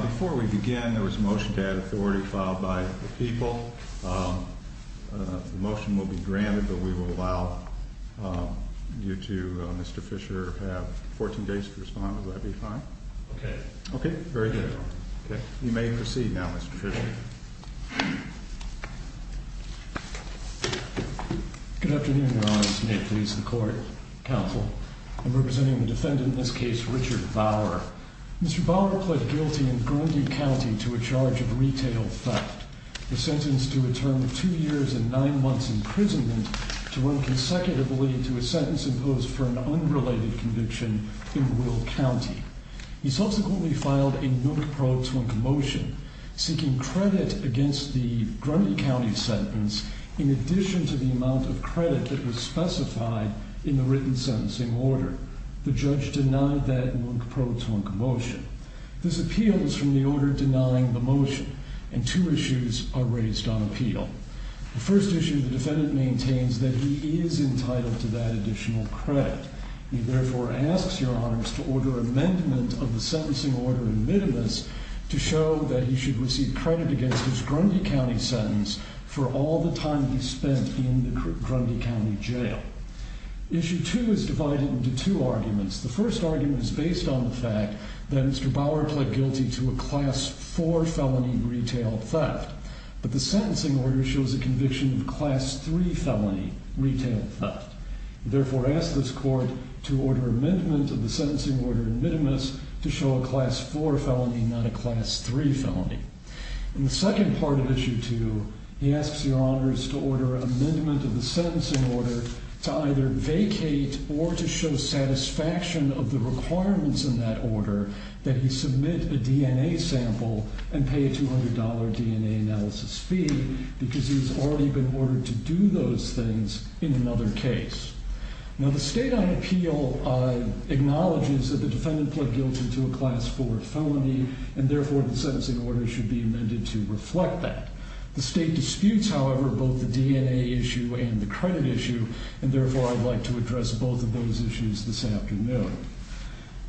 Before we begin, there was a motion to add authority filed by the people. The motion will be granted, but we will allow you to, Mr. Fisher, have 14 days to respond. Would that be fine? Okay. Okay. Very good. Okay. You may proceed now, Mr. Fisher. Good afternoon, Your Honors. May it please the Court, Counsel. I'm representing the defendant in this case, Richard Bauer. Mr. Bauer pled guilty in Grundy County to a charge of retail theft. He was sentenced to a term of two years and nine months' imprisonment to run consecutively to a sentence imposed for an unrelated conviction in Will County. He subsequently filed a nook-pro-tunk motion seeking credit against the Grundy County sentence in addition to the amount of credit that was specified in the written sentencing order. The judge denied that nook-pro-tunk motion. This appeal is from the order denying the motion, and two issues are raised on appeal. The first issue, the defendant maintains that he is entitled to that additional credit. He therefore asks Your Honors to order amendment of the sentencing order in middle of this to show that he should receive credit against his Grundy County sentence for all the time he spent in the Grundy County jail. Issue two is divided into two arguments. The first argument is based on the fact that Mr. Bauer pled guilty to a class four felony retail theft, but the sentencing order shows a conviction of class three felony retail theft. He therefore asks this court to order amendment of the sentencing order in middle of this to show a class four felony, not a class three felony. In the second part of issue two, he asks Your Honors to order amendment of the sentencing order to either vacate or to show satisfaction of the requirements in that order that he submit a DNA sample and pay a $200 DNA analysis fee because he's already been ordered to do those things in another case. Now the state on appeal acknowledges that the defendant pled guilty to a class four felony, and therefore the sentencing order should be amended to reflect that. The state disputes, however, both the DNA issue and the credit issue, and therefore I'd like to address both of those issues this afternoon.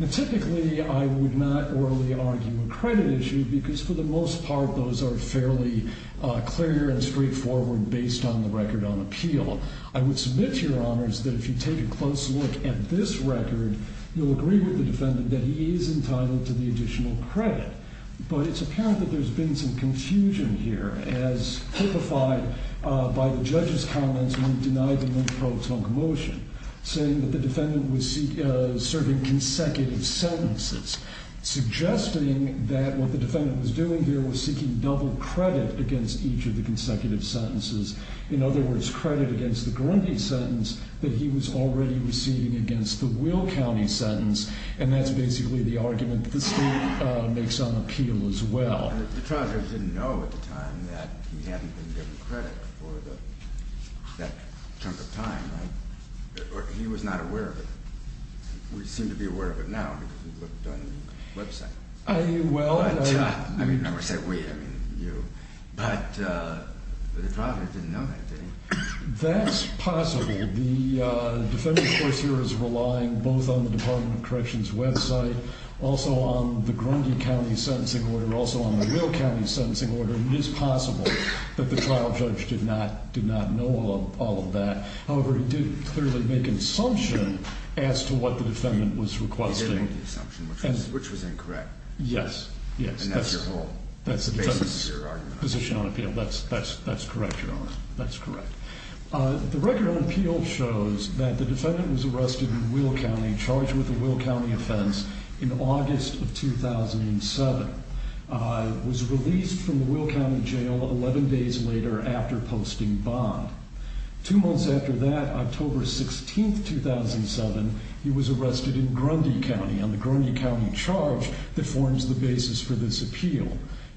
Typically, I would not orally argue a credit issue because for the most part, those are fairly clear and straightforward based on the record on appeal. I would submit to Your Honors that if you take a close look at this record, you'll agree with the defendant that he is entitled to the additional credit. But it's apparent that there's been some confusion here as typified by the judge's comments when he denied the lynch probe's own commotion, saying that the defendant was serving consecutive sentences, suggesting that what the defendant was doing here was seeking double credit against each of the consecutive sentences. In other words, credit against the Grundy sentence that he was already receiving against the Will County sentence, and that's basically the argument that the state makes on appeal as well. The trial judge didn't know at the time that he hadn't been given credit for that chunk of time, right? He was not aware of it. We seem to be aware of it now because we've looked on the website. I mean, I would say we, I mean you. But the trial judge didn't know that, did he? That's possible. The defendant, of course, here is relying both on the Department of Corrections website, also on the Grundy County sentencing order, also on the Will County sentencing order. It is possible that the trial judge did not know all of that. However, he did clearly make an assumption as to what the defendant was requesting. He did make the assumption, which was incorrect. Yes, yes. And that's your whole basis of your argument. Position on appeal. That's correct, Your Honor. That's correct. The record on appeal shows that the defendant was arrested in Will County, charged with a Will County offense in August of 2007. Was released from the Will County jail 11 days later after posting bond. Two months after that, October 16, 2007, he was arrested in Grundy County on the Grundy County charge that forms the basis for this appeal.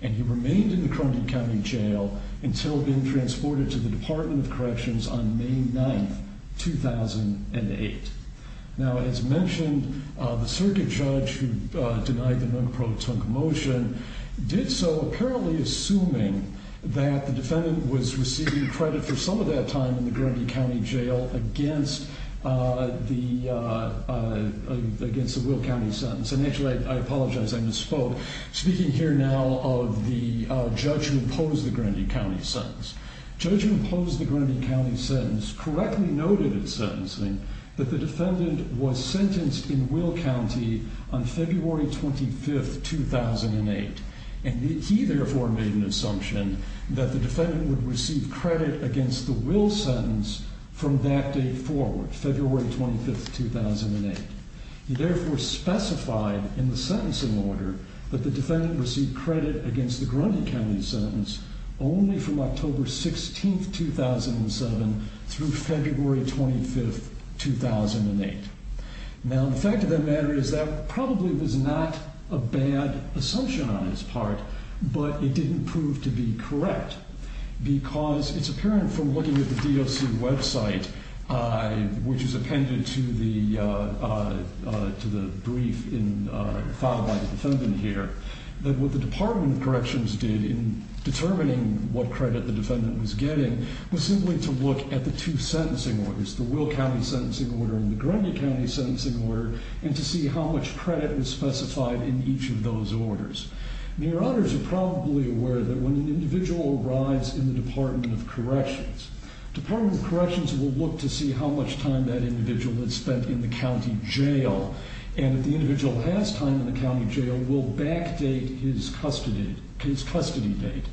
And he remained in the Grundy County jail until being transported to the Department of Corrections on May 9, 2008. Now, as mentioned, the circuit judge who denied the Munk Pro Tunk motion did so apparently assuming that the defendant was receiving credit for some of that time in the Grundy County jail against the Will County sentence. And actually, I apologize. I misspoke. Speaking here now of the judge who imposed the Grundy County sentence. Judge who imposed the Grundy County sentence correctly noted in his sentencing that the defendant was sentenced in Will County on February 25, 2008. And he therefore made an assumption that the defendant would receive credit against the Will sentence from that date forward, February 25, 2008. He therefore specified in the sentencing order that the defendant received credit against the Grundy County sentence only from October 16, 2007 through February 25, 2008. Now, the fact of the matter is that probably was not a bad assumption on his part, but it didn't prove to be correct. Because it's apparent from looking at the DOC website, which is appended to the brief found by the defendant here, that what the Department of Corrections did in determining what credit the defendant was getting was simply to look at the two sentencing orders, the Will County sentencing order and the Grundy County sentencing order, and to see how much credit was specified in each of those orders. Your honors are probably aware that when an individual arrives in the Department of Corrections, the Department of Corrections will look to see how much time that individual has spent in the county jail. And if the individual has time in the county jail, it will backdate his custody date.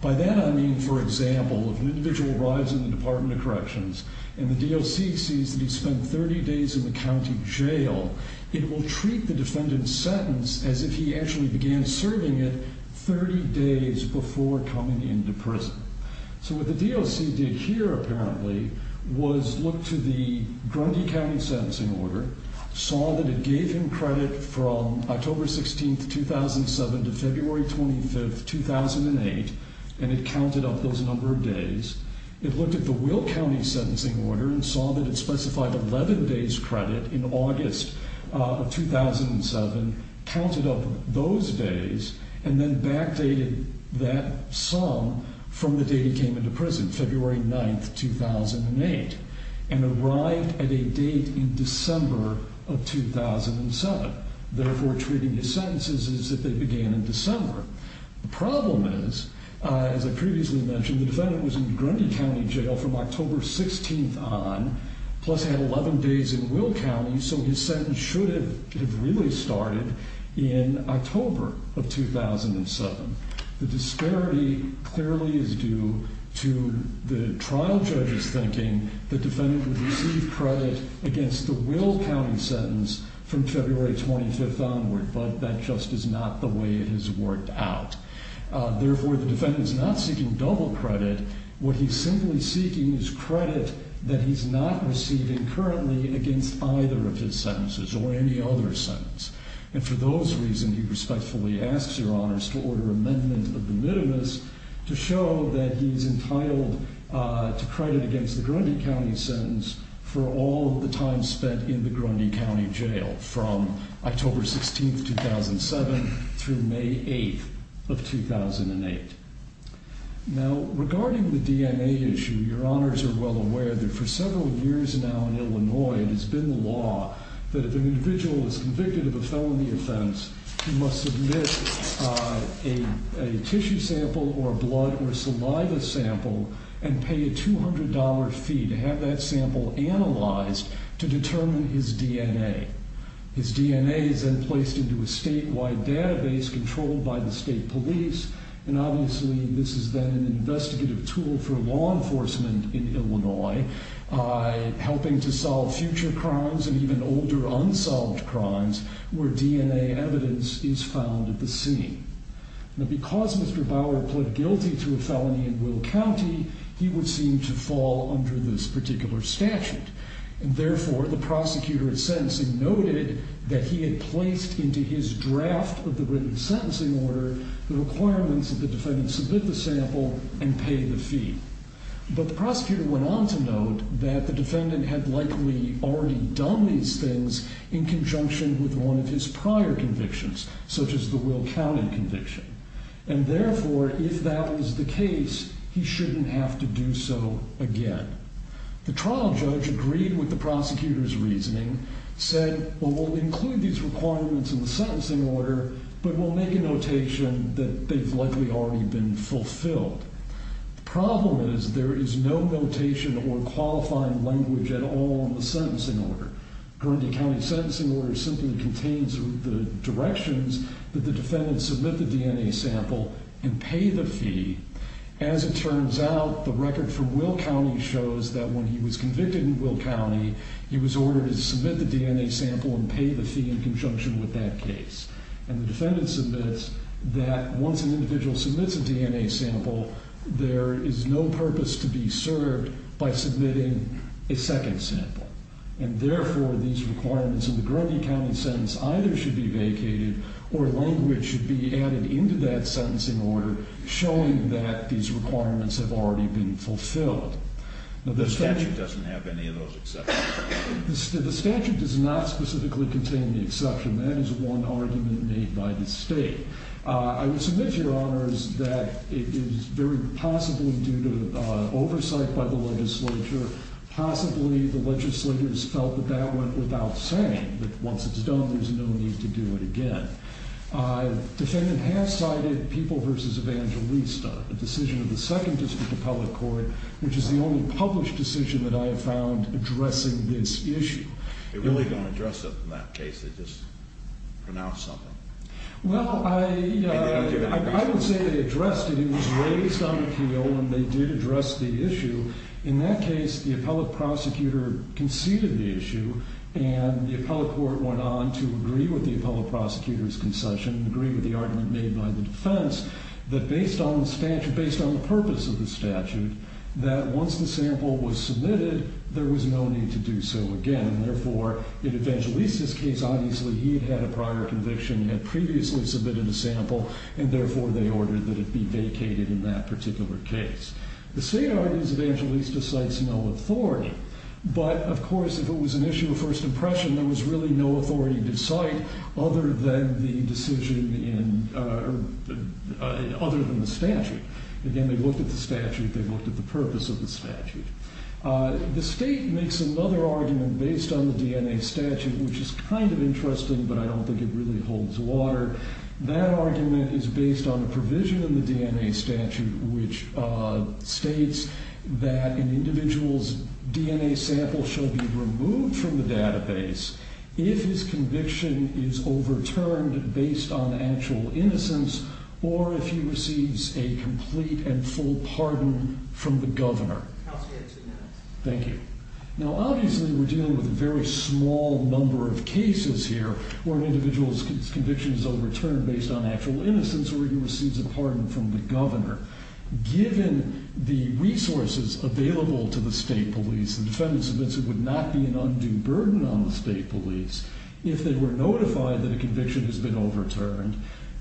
By that I mean, for example, if an individual arrives in the Department of Corrections and the DOC sees that he's spent 30 days in the county jail, it will treat the defendant's sentence as if he actually began serving it 30 days before coming into prison. So what the DOC did here, apparently, was look to the Grundy County sentencing order, saw that it gave him credit from October 16, 2007 to February 25, 2008, and it counted up those number of days. It looked at the Will County sentencing order and saw that it specified 11 days credit in August of 2007, counted up those days, and then backdated that sum from the date he came into prison, February 9, 2008, and arrived at a date in December of 2007, therefore treating his sentences as if they began in December. The problem is, as I previously mentioned, the defendant was in the Grundy County jail from October 16 on, plus he had 11 days in Will County, so his sentence should have really started in October of 2007. The disparity clearly is due to the trial judge's thinking that the defendant would receive credit against the Will County sentence from February 25 onward, but that just is not the way it has worked out. Therefore, the defendant is not seeking double credit. What he's simply seeking is credit that he's not receiving currently against either of his sentences or any other sentence. And for those reasons, he respectfully asks your honors to order amendment of the minimus to show that he's entitled to credit against the Grundy County sentence for all of the time spent in the Grundy County jail from October 16, 2007, through May 8, 2008. Now, regarding the DNA issue, your honors are well aware that for several years now in Illinois, it has been the law that if an individual is convicted of a felony offense, he must submit a tissue sample or a blood or saliva sample and pay a $200 fee to have that sample analyzed to determine his DNA. His DNA is then placed into a statewide database controlled by the state police, and obviously this has been an investigative tool for law enforcement in Illinois, helping to solve future crimes and even older unsolved crimes where DNA evidence is found at the scene. Now, because Mr. Bauer pled guilty to a felony in Will County, he would seem to fall under this particular statute. And therefore, the prosecutor at sentencing noted that he had placed into his draft of the written sentencing order the requirements that the defendant submit the sample and pay the fee. But the prosecutor went on to note that the defendant had likely already done these things in conjunction with one of his prior convictions, such as the Will County conviction. And therefore, if that was the case, he shouldn't have to do so again. The trial judge agreed with the prosecutor's reasoning, said, well, we'll include these requirements in the sentencing order, but we'll make a notation that they've likely already been fulfilled. The problem is there is no notation or qualifying language at all in the sentencing order. Guernsey County's sentencing order simply contains the directions that the defendant submit the DNA sample and pay the fee. As it turns out, the record from Will County shows that when he was convicted in Will County, he was ordered to submit the DNA sample and pay the fee in conjunction with that case. And the defendant submits that once an individual submits a DNA sample, there is no purpose to be served by submitting a second sample. And therefore, these requirements in the Guernsey County sentence either should be vacated or language should be added into that sentencing order showing that these requirements have already been fulfilled. The statute doesn't have any of those exceptions. The statute does not specifically contain the exception. That is one argument made by the state. I would submit, Your Honors, that it is very possibly due to oversight by the legislature. Possibly the legislature has felt that that went without saying, that once it's done, there's no need to do it again. The defendant has cited People v. Evangelista, the decision of the Second District of Public Court, which is the only published decision that I have found addressing this issue. They really don't address it in that case. They just pronounce something. Well, I would say they addressed it. It was raised on appeal and they did address the issue. In that case, the appellate prosecutor conceded the issue and the appellate court went on to agree with the appellate prosecutor's concession and agree with the argument made by the defense that based on the purpose of the statute, that once the sample was submitted, there was no need to do so again. Therefore, in Evangelista's case, obviously he had had a prior conviction, had previously submitted a sample, and therefore they ordered that it be vacated in that particular case. The state argues Evangelista cites no authority. But, of course, if it was an issue of first impression, there was really no authority to cite other than the decision in, other than the statute. Again, they looked at the statute. They looked at the purpose of the statute. The state makes another argument based on the DNA statute, which is kind of interesting, but I don't think it really holds water. That argument is based on a provision in the DNA statute which states that an individual's DNA sample shall be removed from the database if his conviction is overturned based on actual innocence or if he receives a complete and full pardon from the governor. Counsel, you have two minutes. Thank you. Now, obviously we're dealing with a very small number of cases here where an individual's conviction is overturned based on actual innocence or he receives a pardon from the governor. Given the resources available to the state police, the defendants admit it would not be an undue burden on the state police if they were notified that a conviction has been overturned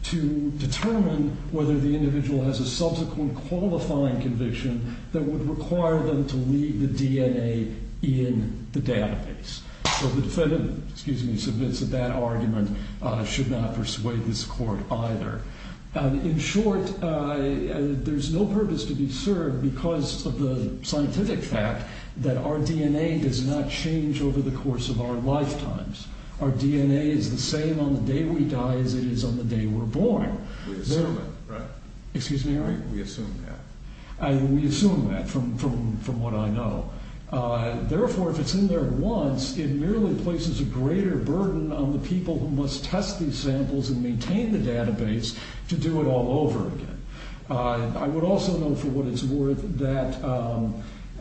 to determine whether the individual has a subsequent qualifying conviction that would require them to leave the DNA in the database. So the defendant, excuse me, submits that that argument should not persuade this court either. In short, there's no purpose to be served because of the scientific fact that our DNA does not change over the course of our lifetimes. Our DNA is the same on the day we die as it is on the day we're born. We assume it, right? Excuse me, Harry? We assume that. We assume that from what I know. Therefore, if it's in there once, it merely places a greater burden on the people who must test these samples and maintain the database to do it all over again. I would also note for what it's worth that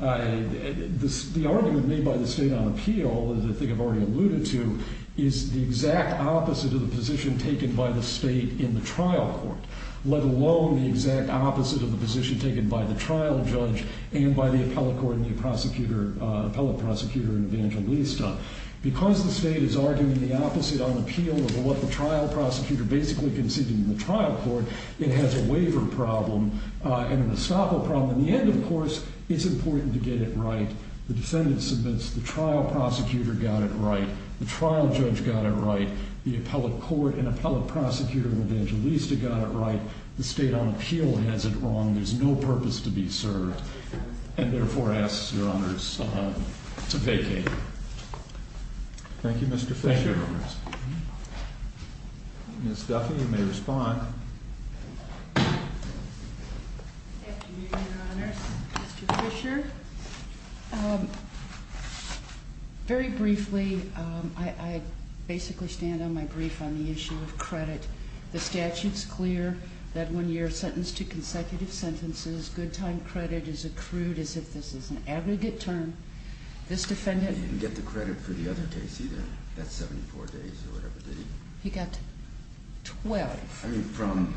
the argument made by the state on appeal, as I think I've already alluded to, is the exact opposite of the position taken by the state in the trial court, let alone the exact opposite of the position taken by the trial judge and by the appellate prosecutor in Evangelista. Because the state is arguing the opposite on appeal of what the trial prosecutor basically conceded in the trial court, it has a waiver problem and an estoppel problem. In the end, of course, it's important to get it right. The defendant submits the trial prosecutor got it right, the trial judge got it right, the appellate court and appellate prosecutor in Evangelista got it right, the state on appeal has it wrong, there's no purpose to be served, and therefore asks Your Honors to vacate. Thank you, Mr. Fisher. Ms. Duffy, you may respond. Thank you, Your Honors. Mr. Fisher, very briefly, I basically stand on my brief on the issue of credit. The statute's clear that when you're sentenced to consecutive sentences, good time credit is accrued as if this is an aggregate term. This defendant... He didn't get the credit for the other case either. That's 74 days or whatever, did he? He got 12. I mean, from...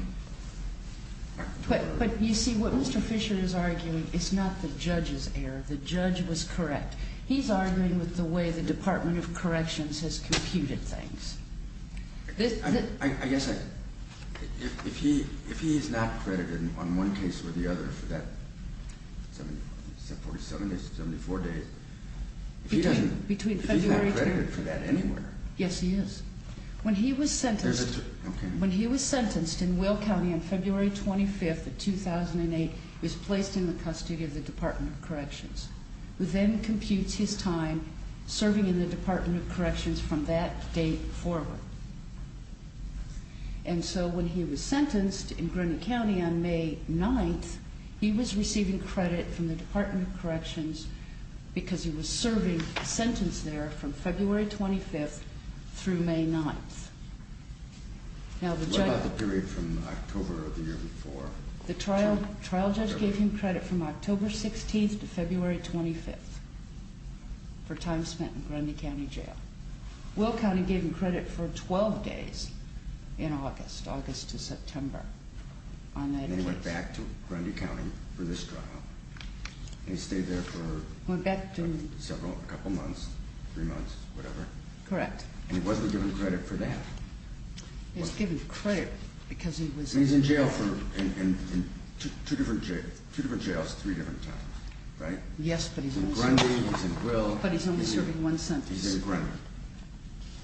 But you see, what Mr. Fisher is arguing is not the judge's error. The judge was correct. He's arguing with the way the Department of Corrections has computed things. I guess if he is not credited on one case or the other for that 74 days, if he's not credited for that anywhere... Yes, he is. When he was sentenced... Okay. When he was sentenced in Will County on February 25th of 2008, he was placed in the custody of the Department of Corrections, who then computes his time serving in the Department of Corrections from that date forward. And so when he was sentenced in Greene County on May 9th, he was receiving credit from the Department of Corrections because he was serving a sentence there from February 25th through May 9th. What about the period from October of the year before? The trial judge gave him credit from October 16th to February 25th for time spent in Grundy County Jail. Will County gave him credit for 12 days in August, August to September on that case. And he went back to Grundy County for this trial. And he stayed there for... Went back to... Several, a couple months, three months, whatever. Correct. And he wasn't given credit for that. He was given credit because he was... And he's in jail for, in two different jails, three different times, right? Yes, but he's only serving one sentence. In Grundy, he's in Will. But he's only serving one sentence. He's in Grundy.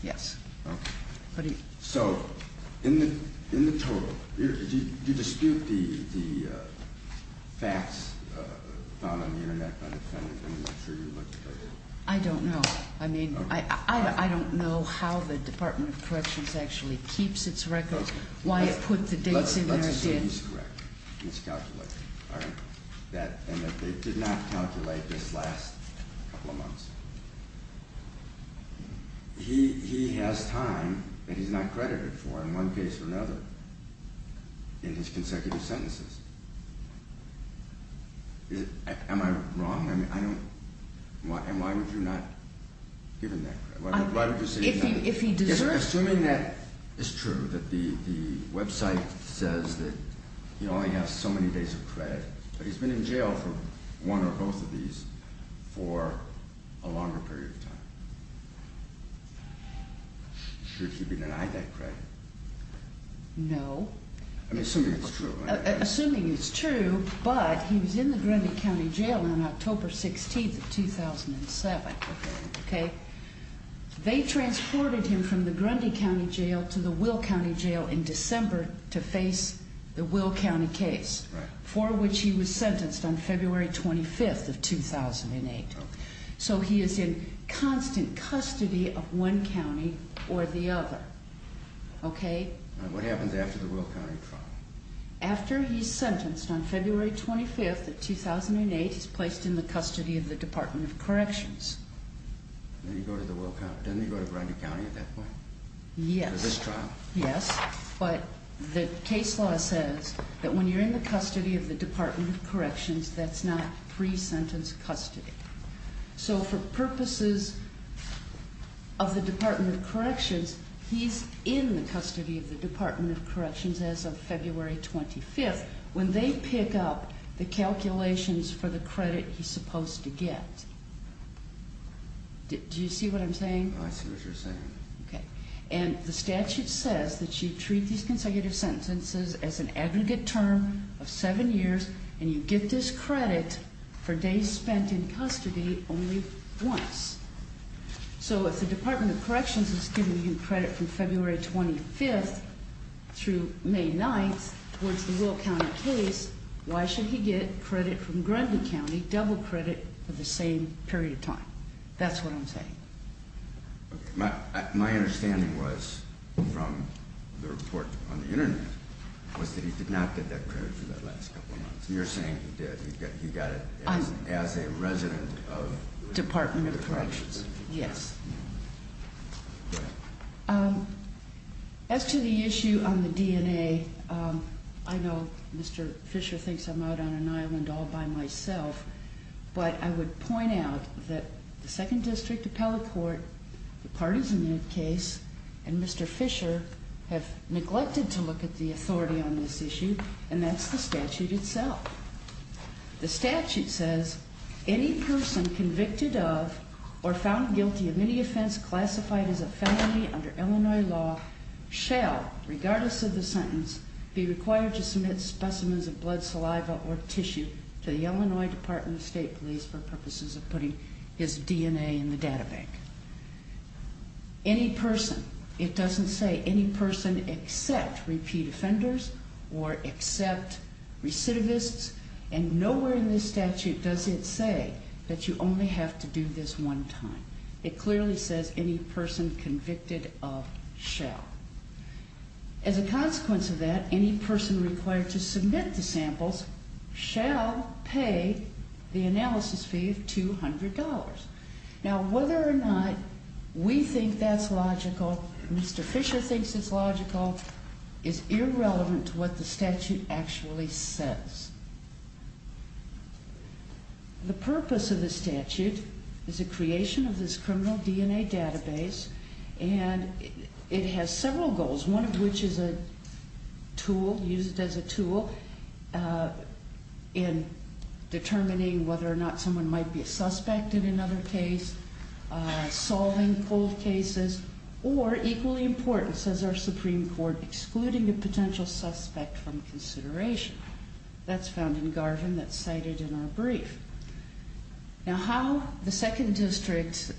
Yes. Okay. So, in the total, do you dispute the facts found on the Internet by the defendant and make sure you look at those? I don't know. I mean, I don't know how the Department of Corrections actually keeps its records, why it put the dates in there. Let's assume he's correct. It's calculated, all right? And that they did not calculate this last couple of months. He has time that he's not credited for in one case or another in his consecutive sentences. Am I wrong? I mean, I don't... And why would you not give him that credit? Why would you say he's not... If he deserves... Assuming that it's true, that the website says that he only has so many days of credit, but he's been in jail for one or both of these for a longer period of time. Should he be denied that credit? No. I mean, assuming it's true. Assuming it's true, but he was in the Grundy County Jail on October 16th of 2007, okay? They transported him from the Grundy County Jail to the Will County Jail in December to face the Will County case. Right. For which he was sentenced on February 25th of 2008. Okay. So he is in constant custody of one county or the other, okay? All right. What happens after the Will County trial? After he's sentenced on February 25th of 2008, he's placed in the custody of the Department of Corrections. Then you go to the Will County. Doesn't he go to Grundy County at that point? Yes. For this trial? Yes. But the case law says that when you're in the custody of the Department of Corrections, that's not pre-sentence custody. So for purposes of the Department of Corrections, he's in the custody of the Department of Corrections as of February 25th when they pick up the calculations for the credit he's supposed to get. Do you see what I'm saying? I see what you're saying. Okay. And the statute says that you treat these consecutive sentences as an aggregate term of seven years and you get this credit for days spent in custody only once. So if the Department of Corrections is giving you credit from February 25th through May 9th, towards the Will County case, why should he get credit from Grundy County, double credit, for the same period of time? That's what I'm saying. My understanding was from the report on the Internet was that he did not get that credit for that last couple of months. You're saying he did. He got it as a resident of the Department of Corrections. Yes. As to the issue on the DNA, I know Mr. Fisher thinks I'm out on an island all by myself, but I would point out that the Second District Appellate Court, the parties in the case, and Mr. Fisher have neglected to look at the authority on this issue, and that's the statute itself. The statute says, any person convicted of or found guilty of any offense classified as a felony under Illinois law shall, regardless of the sentence, be required to submit specimens of blood, saliva, or tissue to the Illinois Department of State Police for purposes of putting his DNA in the data bank. Any person, it doesn't say any person except repeat offenders or except recidivists, and nowhere in this statute does it say that you only have to do this one time. It clearly says any person convicted of shall. As a consequence of that, any person required to submit the samples shall pay the analysis fee of $200. Now, whether or not we think that's logical, Mr. Fisher thinks it's logical, is irrelevant to what the statute actually says. The purpose of the statute is the creation of this criminal DNA database, and it has several goals, one of which is a tool, used as a tool, in determining whether or not someone might be a suspect in another case, solving cold cases, or, equally important, says our Supreme Court, excluding a potential suspect from consideration. That's found in Garvin, that's cited in our brief. Now, how the 2nd District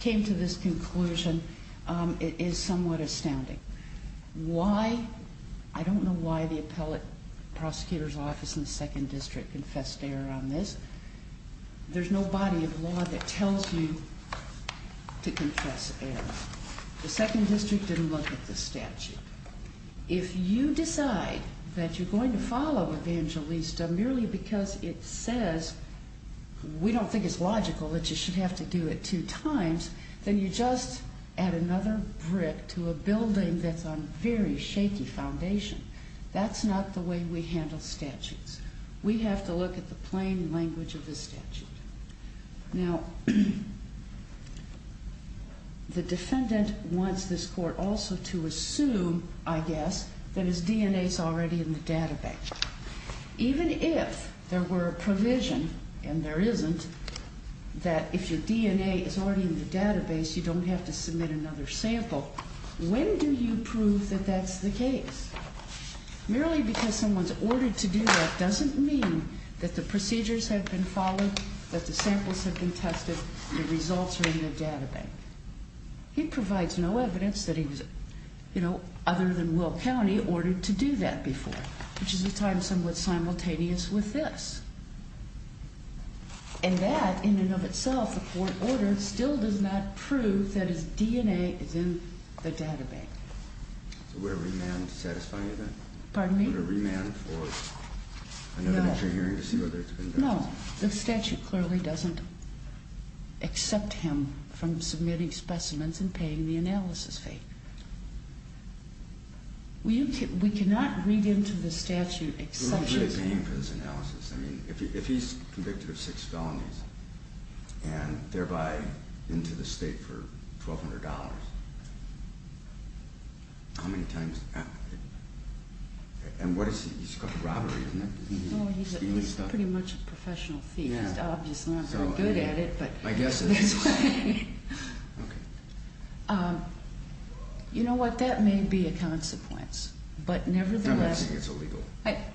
came to this conclusion is somewhat astounding. Why? I don't know why the appellate prosecutor's office in the 2nd District confessed error on this. There's no body of law that tells you to confess error. The 2nd District didn't look at the statute. If you decide that you're going to follow Evangelista merely because it says, we don't think it's logical that you should have to do it two times, then you just add another brick to a building that's on very shaky foundation. That's not the way we handle statutes. We have to look at the plain language of the statute. Now, the defendant wants this court also to assume, I guess, that his DNA's already in the database. Even if there were a provision, and there isn't, that if your DNA is already in the database, you don't have to submit another sample, when do you prove that that's the case? Merely because someone's ordered to do that doesn't mean that the procedures have been followed, that the samples have been tested, the results are in the database. He provides no evidence that he was, you know, other than Will County, ordered to do that before, which is a time somewhat simultaneous with this. And that, in and of itself, the court ordered, still does not prove that his DNA is in the database. So would a remand satisfy that? Pardon me? Would a remand for another inter-hearing to see whether it's been done? No. The statute clearly doesn't accept him from submitting specimens and paying the analysis fee. We cannot read into the statute exceptions. Who is really paying for this analysis? I mean, if he's convicted of six felonies, and thereby into the state for $1,200, how many times, and what is he, he's got robbery, isn't he? No, he's pretty much a professional thief. He's obviously not very good at it. I guess it is. Okay. You know what, that may be a consequence, but nevertheless. I'm not saying it's illegal.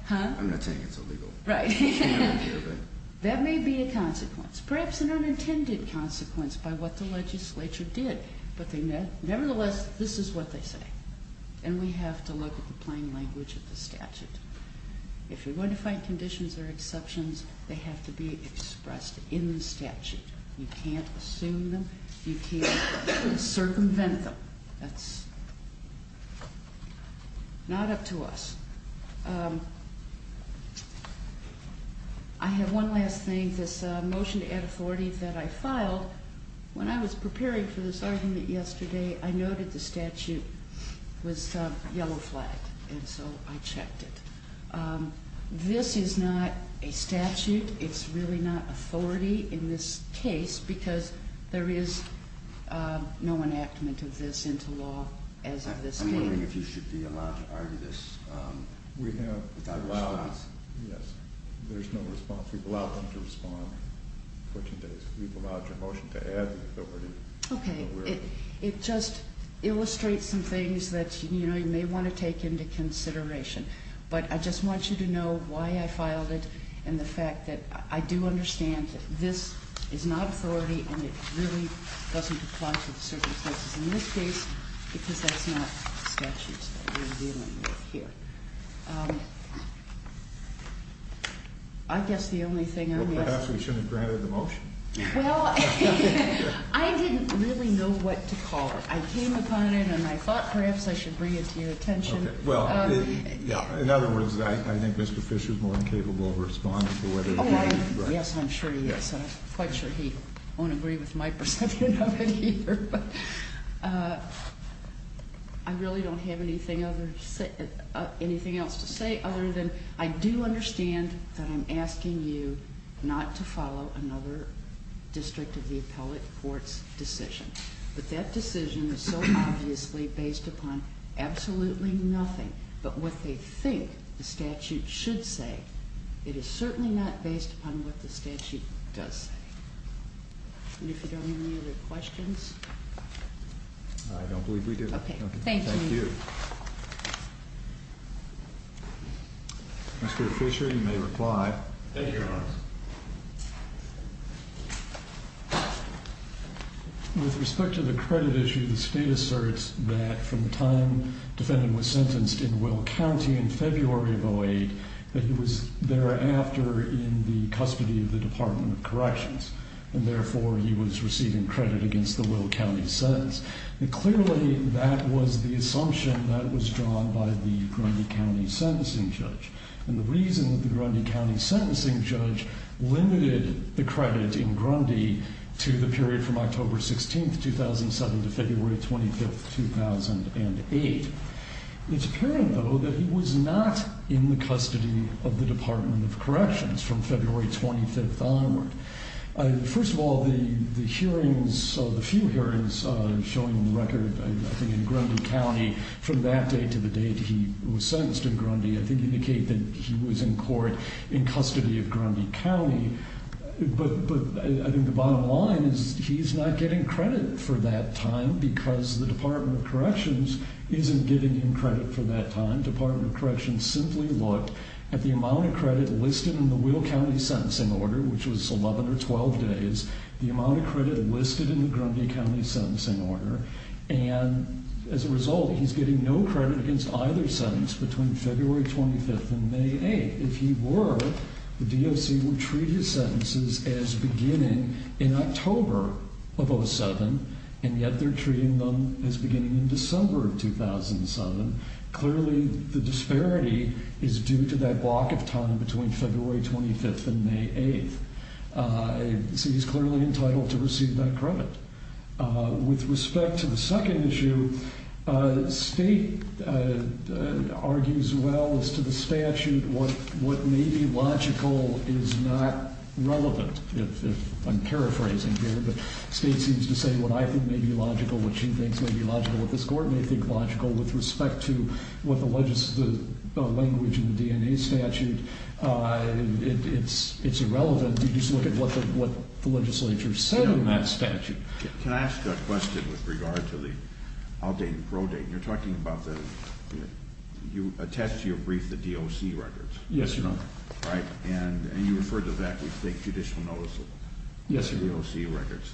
Huh? I'm not saying it's illegal. Right. That may be a consequence, perhaps an unintended consequence by what the legislature did. But nevertheless, this is what they say. And we have to look at the plain language of the statute. If you're going to find conditions or exceptions, they have to be expressed in the statute. You can't assume them. You can't circumvent them. That's not up to us. I have one last thing, this motion to add authority that I filed. When I was preparing for this argument yesterday, I noted the statute was yellow flagged, and so I checked it. This is not a statute. It's really not authority in this case, because there is no enactment of this into law as of this date. I'm wondering if you should be allowed to argue this without response. Yes. There's no response. We've allowed them to respond. We've allowed your motion to add the authority. Okay. It just illustrates some things that you may want to take into consideration. But I just want you to know why I filed it and the fact that I do understand that this is not authority and it really doesn't apply to the circumstances in this case, because that's not the statutes that we're dealing with here. I guess the only thing I'm going to ask. Well, perhaps we shouldn't have granted the motion. Well, I didn't really know what to call it. I came upon it, and I thought perhaps I should bring it to your attention. Okay. Well, in other words, I think Mr. Fisher is more incapable of responding to whether he's right. Yes, I'm sure he is. And I'm quite sure he won't agree with my perception of it either. But I really don't have anything else to say other than I do understand that I'm asking you not to follow another district of the appellate court's decision. But that decision is so obviously based upon absolutely nothing but what they think the statute should say. It is certainly not based upon what the statute does say. And if you don't have any other questions. I don't believe we do. Okay. Thank you. Thank you, Your Honor. With respect to the credit issue, the state asserts that from the time defendant was sentenced in Will County in February of 08, that he was thereafter in the custody of the Department of Corrections, and therefore he was receiving credit against the Will County sentence. Clearly, that was the assumption that was drawn by the Grundy County sentencing judge. And the reason that the Grundy County sentencing judge limited the credit in Grundy to the period from October 16, 2007 to February 25, 2008. It's apparent, though, that he was not in the custody of the Department of Corrections from February 25 onward. First of all, the hearings, the few hearings showing the record, I think, in Grundy County from that date to the date he was sentenced in Grundy, I think indicate that he was in court in custody of Grundy County. But I think the bottom line is he's not getting credit for that time because the Department of Corrections isn't giving him credit for that time. Department of Corrections simply looked at the amount of credit listed in the Will County sentencing order, which was 11 or 12 days, the amount of credit listed in the Grundy County sentencing order. And as a result, he's getting no credit against either sentence between February 25 and May 8. If he were, the DOC would treat his sentences as beginning in October of 07, and yet they're treating them as beginning in December of 2007. Clearly, the disparity is due to that block of time between February 25 and May 8. So he's clearly entitled to receive that credit. With respect to the second issue, State argues well as to the statute what may be logical is not relevant. I'm paraphrasing here, but State seems to say what I think may be logical, what she thinks may be logical, what this court may think logical. With respect to what the language in the DNA statute, it's irrelevant. You just look at what the legislature said in that statute. Can I ask a question with regard to the outdated pro date? You're talking about the – you attached to your brief the DOC records. Yes, Your Honor. Right? And you referred to that with State judicial notice of them. Yes, Your Honor. The DOC records.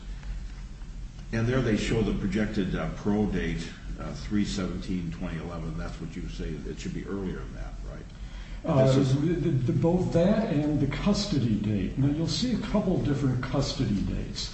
And there they show the projected pro date, 3-17-2011. That's what you say it should be earlier than that, right? Both that and the custody date. Now, you'll see a couple different custody dates,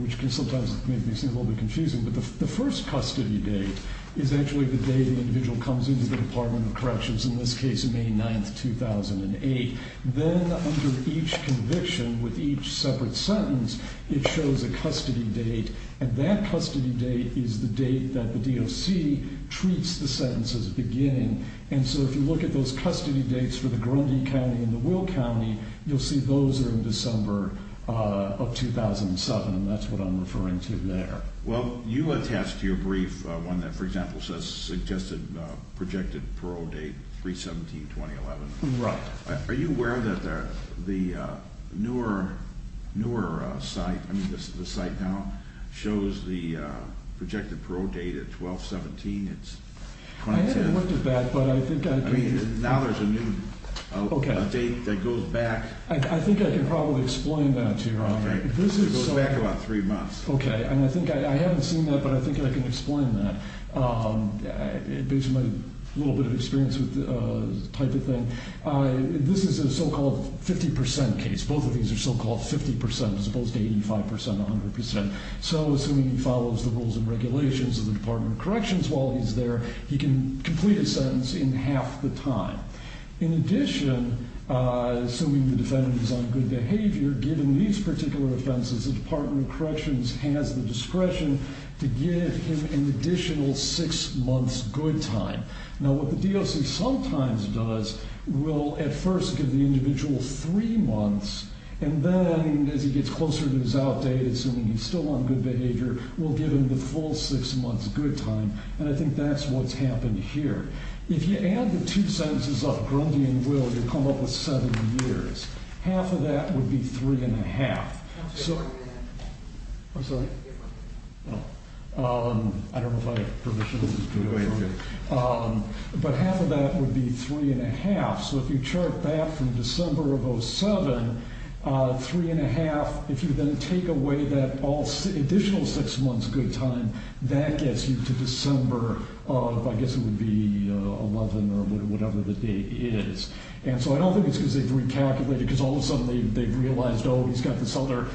which can sometimes make things a little bit confusing. But the first custody date is actually the day the individual comes into the Department of Corrections, in this case, May 9, 2008. Then under each conviction with each separate sentence, it shows a custody date. And that custody date is the date that the DOC treats the sentence as beginning. And so if you look at those custody dates for the Grundy County and the Will County, you'll see those are in December of 2007. And that's what I'm referring to there. Well, you attached to your brief one that, for example, says suggested projected pro date, 3-17-2011. Right. Are you aware that the newer site – I mean, the site now shows the projected pro date at 12-17, it's 2010. I haven't looked at that, but I think I can. I mean, now there's a new date that goes back. I think I can probably explain that to you, Your Honor. It goes back about three months. Okay, and I think I haven't seen that, but I think I can explain that. It gives you a little bit of experience with the type of thing. This is a so-called 50% case. Both of these are so-called 50% as opposed to 85%, 100%. So assuming he follows the rules and regulations of the Department of Corrections while he's there, he can complete a sentence in half the time. In addition, assuming the defendant is on good behavior, given these particular offenses, the Department of Corrections has the discretion to give him an additional six months good time. Now, what the DOC sometimes does will at first give the individual three months, and then as he gets closer to his out date, assuming he's still on good behavior, we'll give him the full six months good time, and I think that's what's happened here. If you add the two sentences of Grundy and Will, you come up with seven years. Half of that would be three and a half. I'm sorry? I don't know if I have permission to go through. But half of that would be three and a half. So if you chart back from December of 07, three and a half, if you then take away that additional six months good time, that gets you to December of, I guess it would be 11 or whatever the date is. And so I don't think it's because they've recalculated because all of a sudden they've realized, oh, he's got this other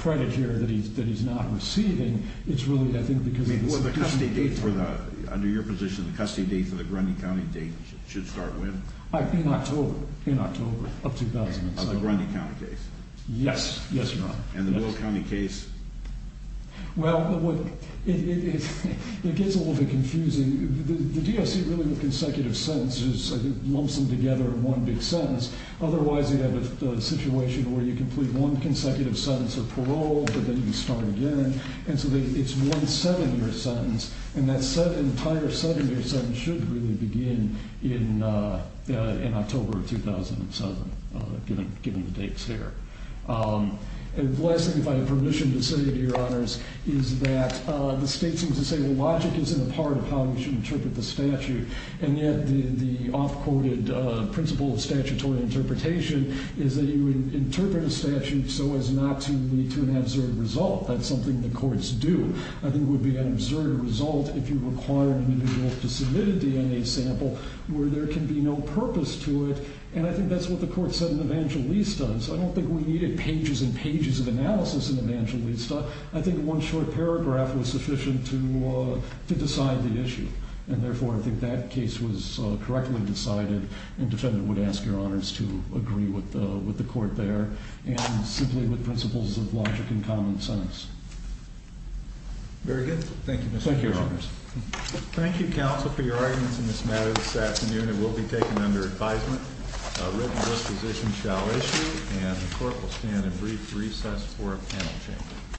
credit here that he's not receiving. It's really, I think, because it's a good time. Under your position, the custody date for the Grundy County date should start when? In October, in October of 2007. Of the Grundy County case? Yes, yes, Your Honor. And the Will County case? Well, it gets a little bit confusing. The DOC really with consecutive sentences lumps them together in one big sentence. Otherwise they have a situation where you complete one consecutive sentence of parole, but then you start again, and so it's one seven-year sentence, and that entire seven-year sentence should really begin in October of 2007, given the dates there. And the last thing, if I have permission to say, Your Honors, is that the state seems to say the logic isn't a part of how we should interpret the statute, and yet the off-courted principle of statutory interpretation is that you interpret a statute so as not to lead to an absurd result. That's something the courts do. I think it would be an absurd result if you required an individual to submit a DNA sample where there can be no purpose to it, and I think that's what the court said in Evangelista, so I don't think we needed pages and pages of analysis in Evangelista. I think one short paragraph was sufficient to decide the issue, and therefore I think that case was correctly decided, and the defendant would ask Your Honors to agree with the court there and simply with principles of logic and common sense. Very good. Thank you. Thank you, Your Honors. Thank you, counsel, for your arguments in this matter this afternoon. It will be taken under advisement. A written disposition shall issue, and the court will stand in brief recess for a panel change.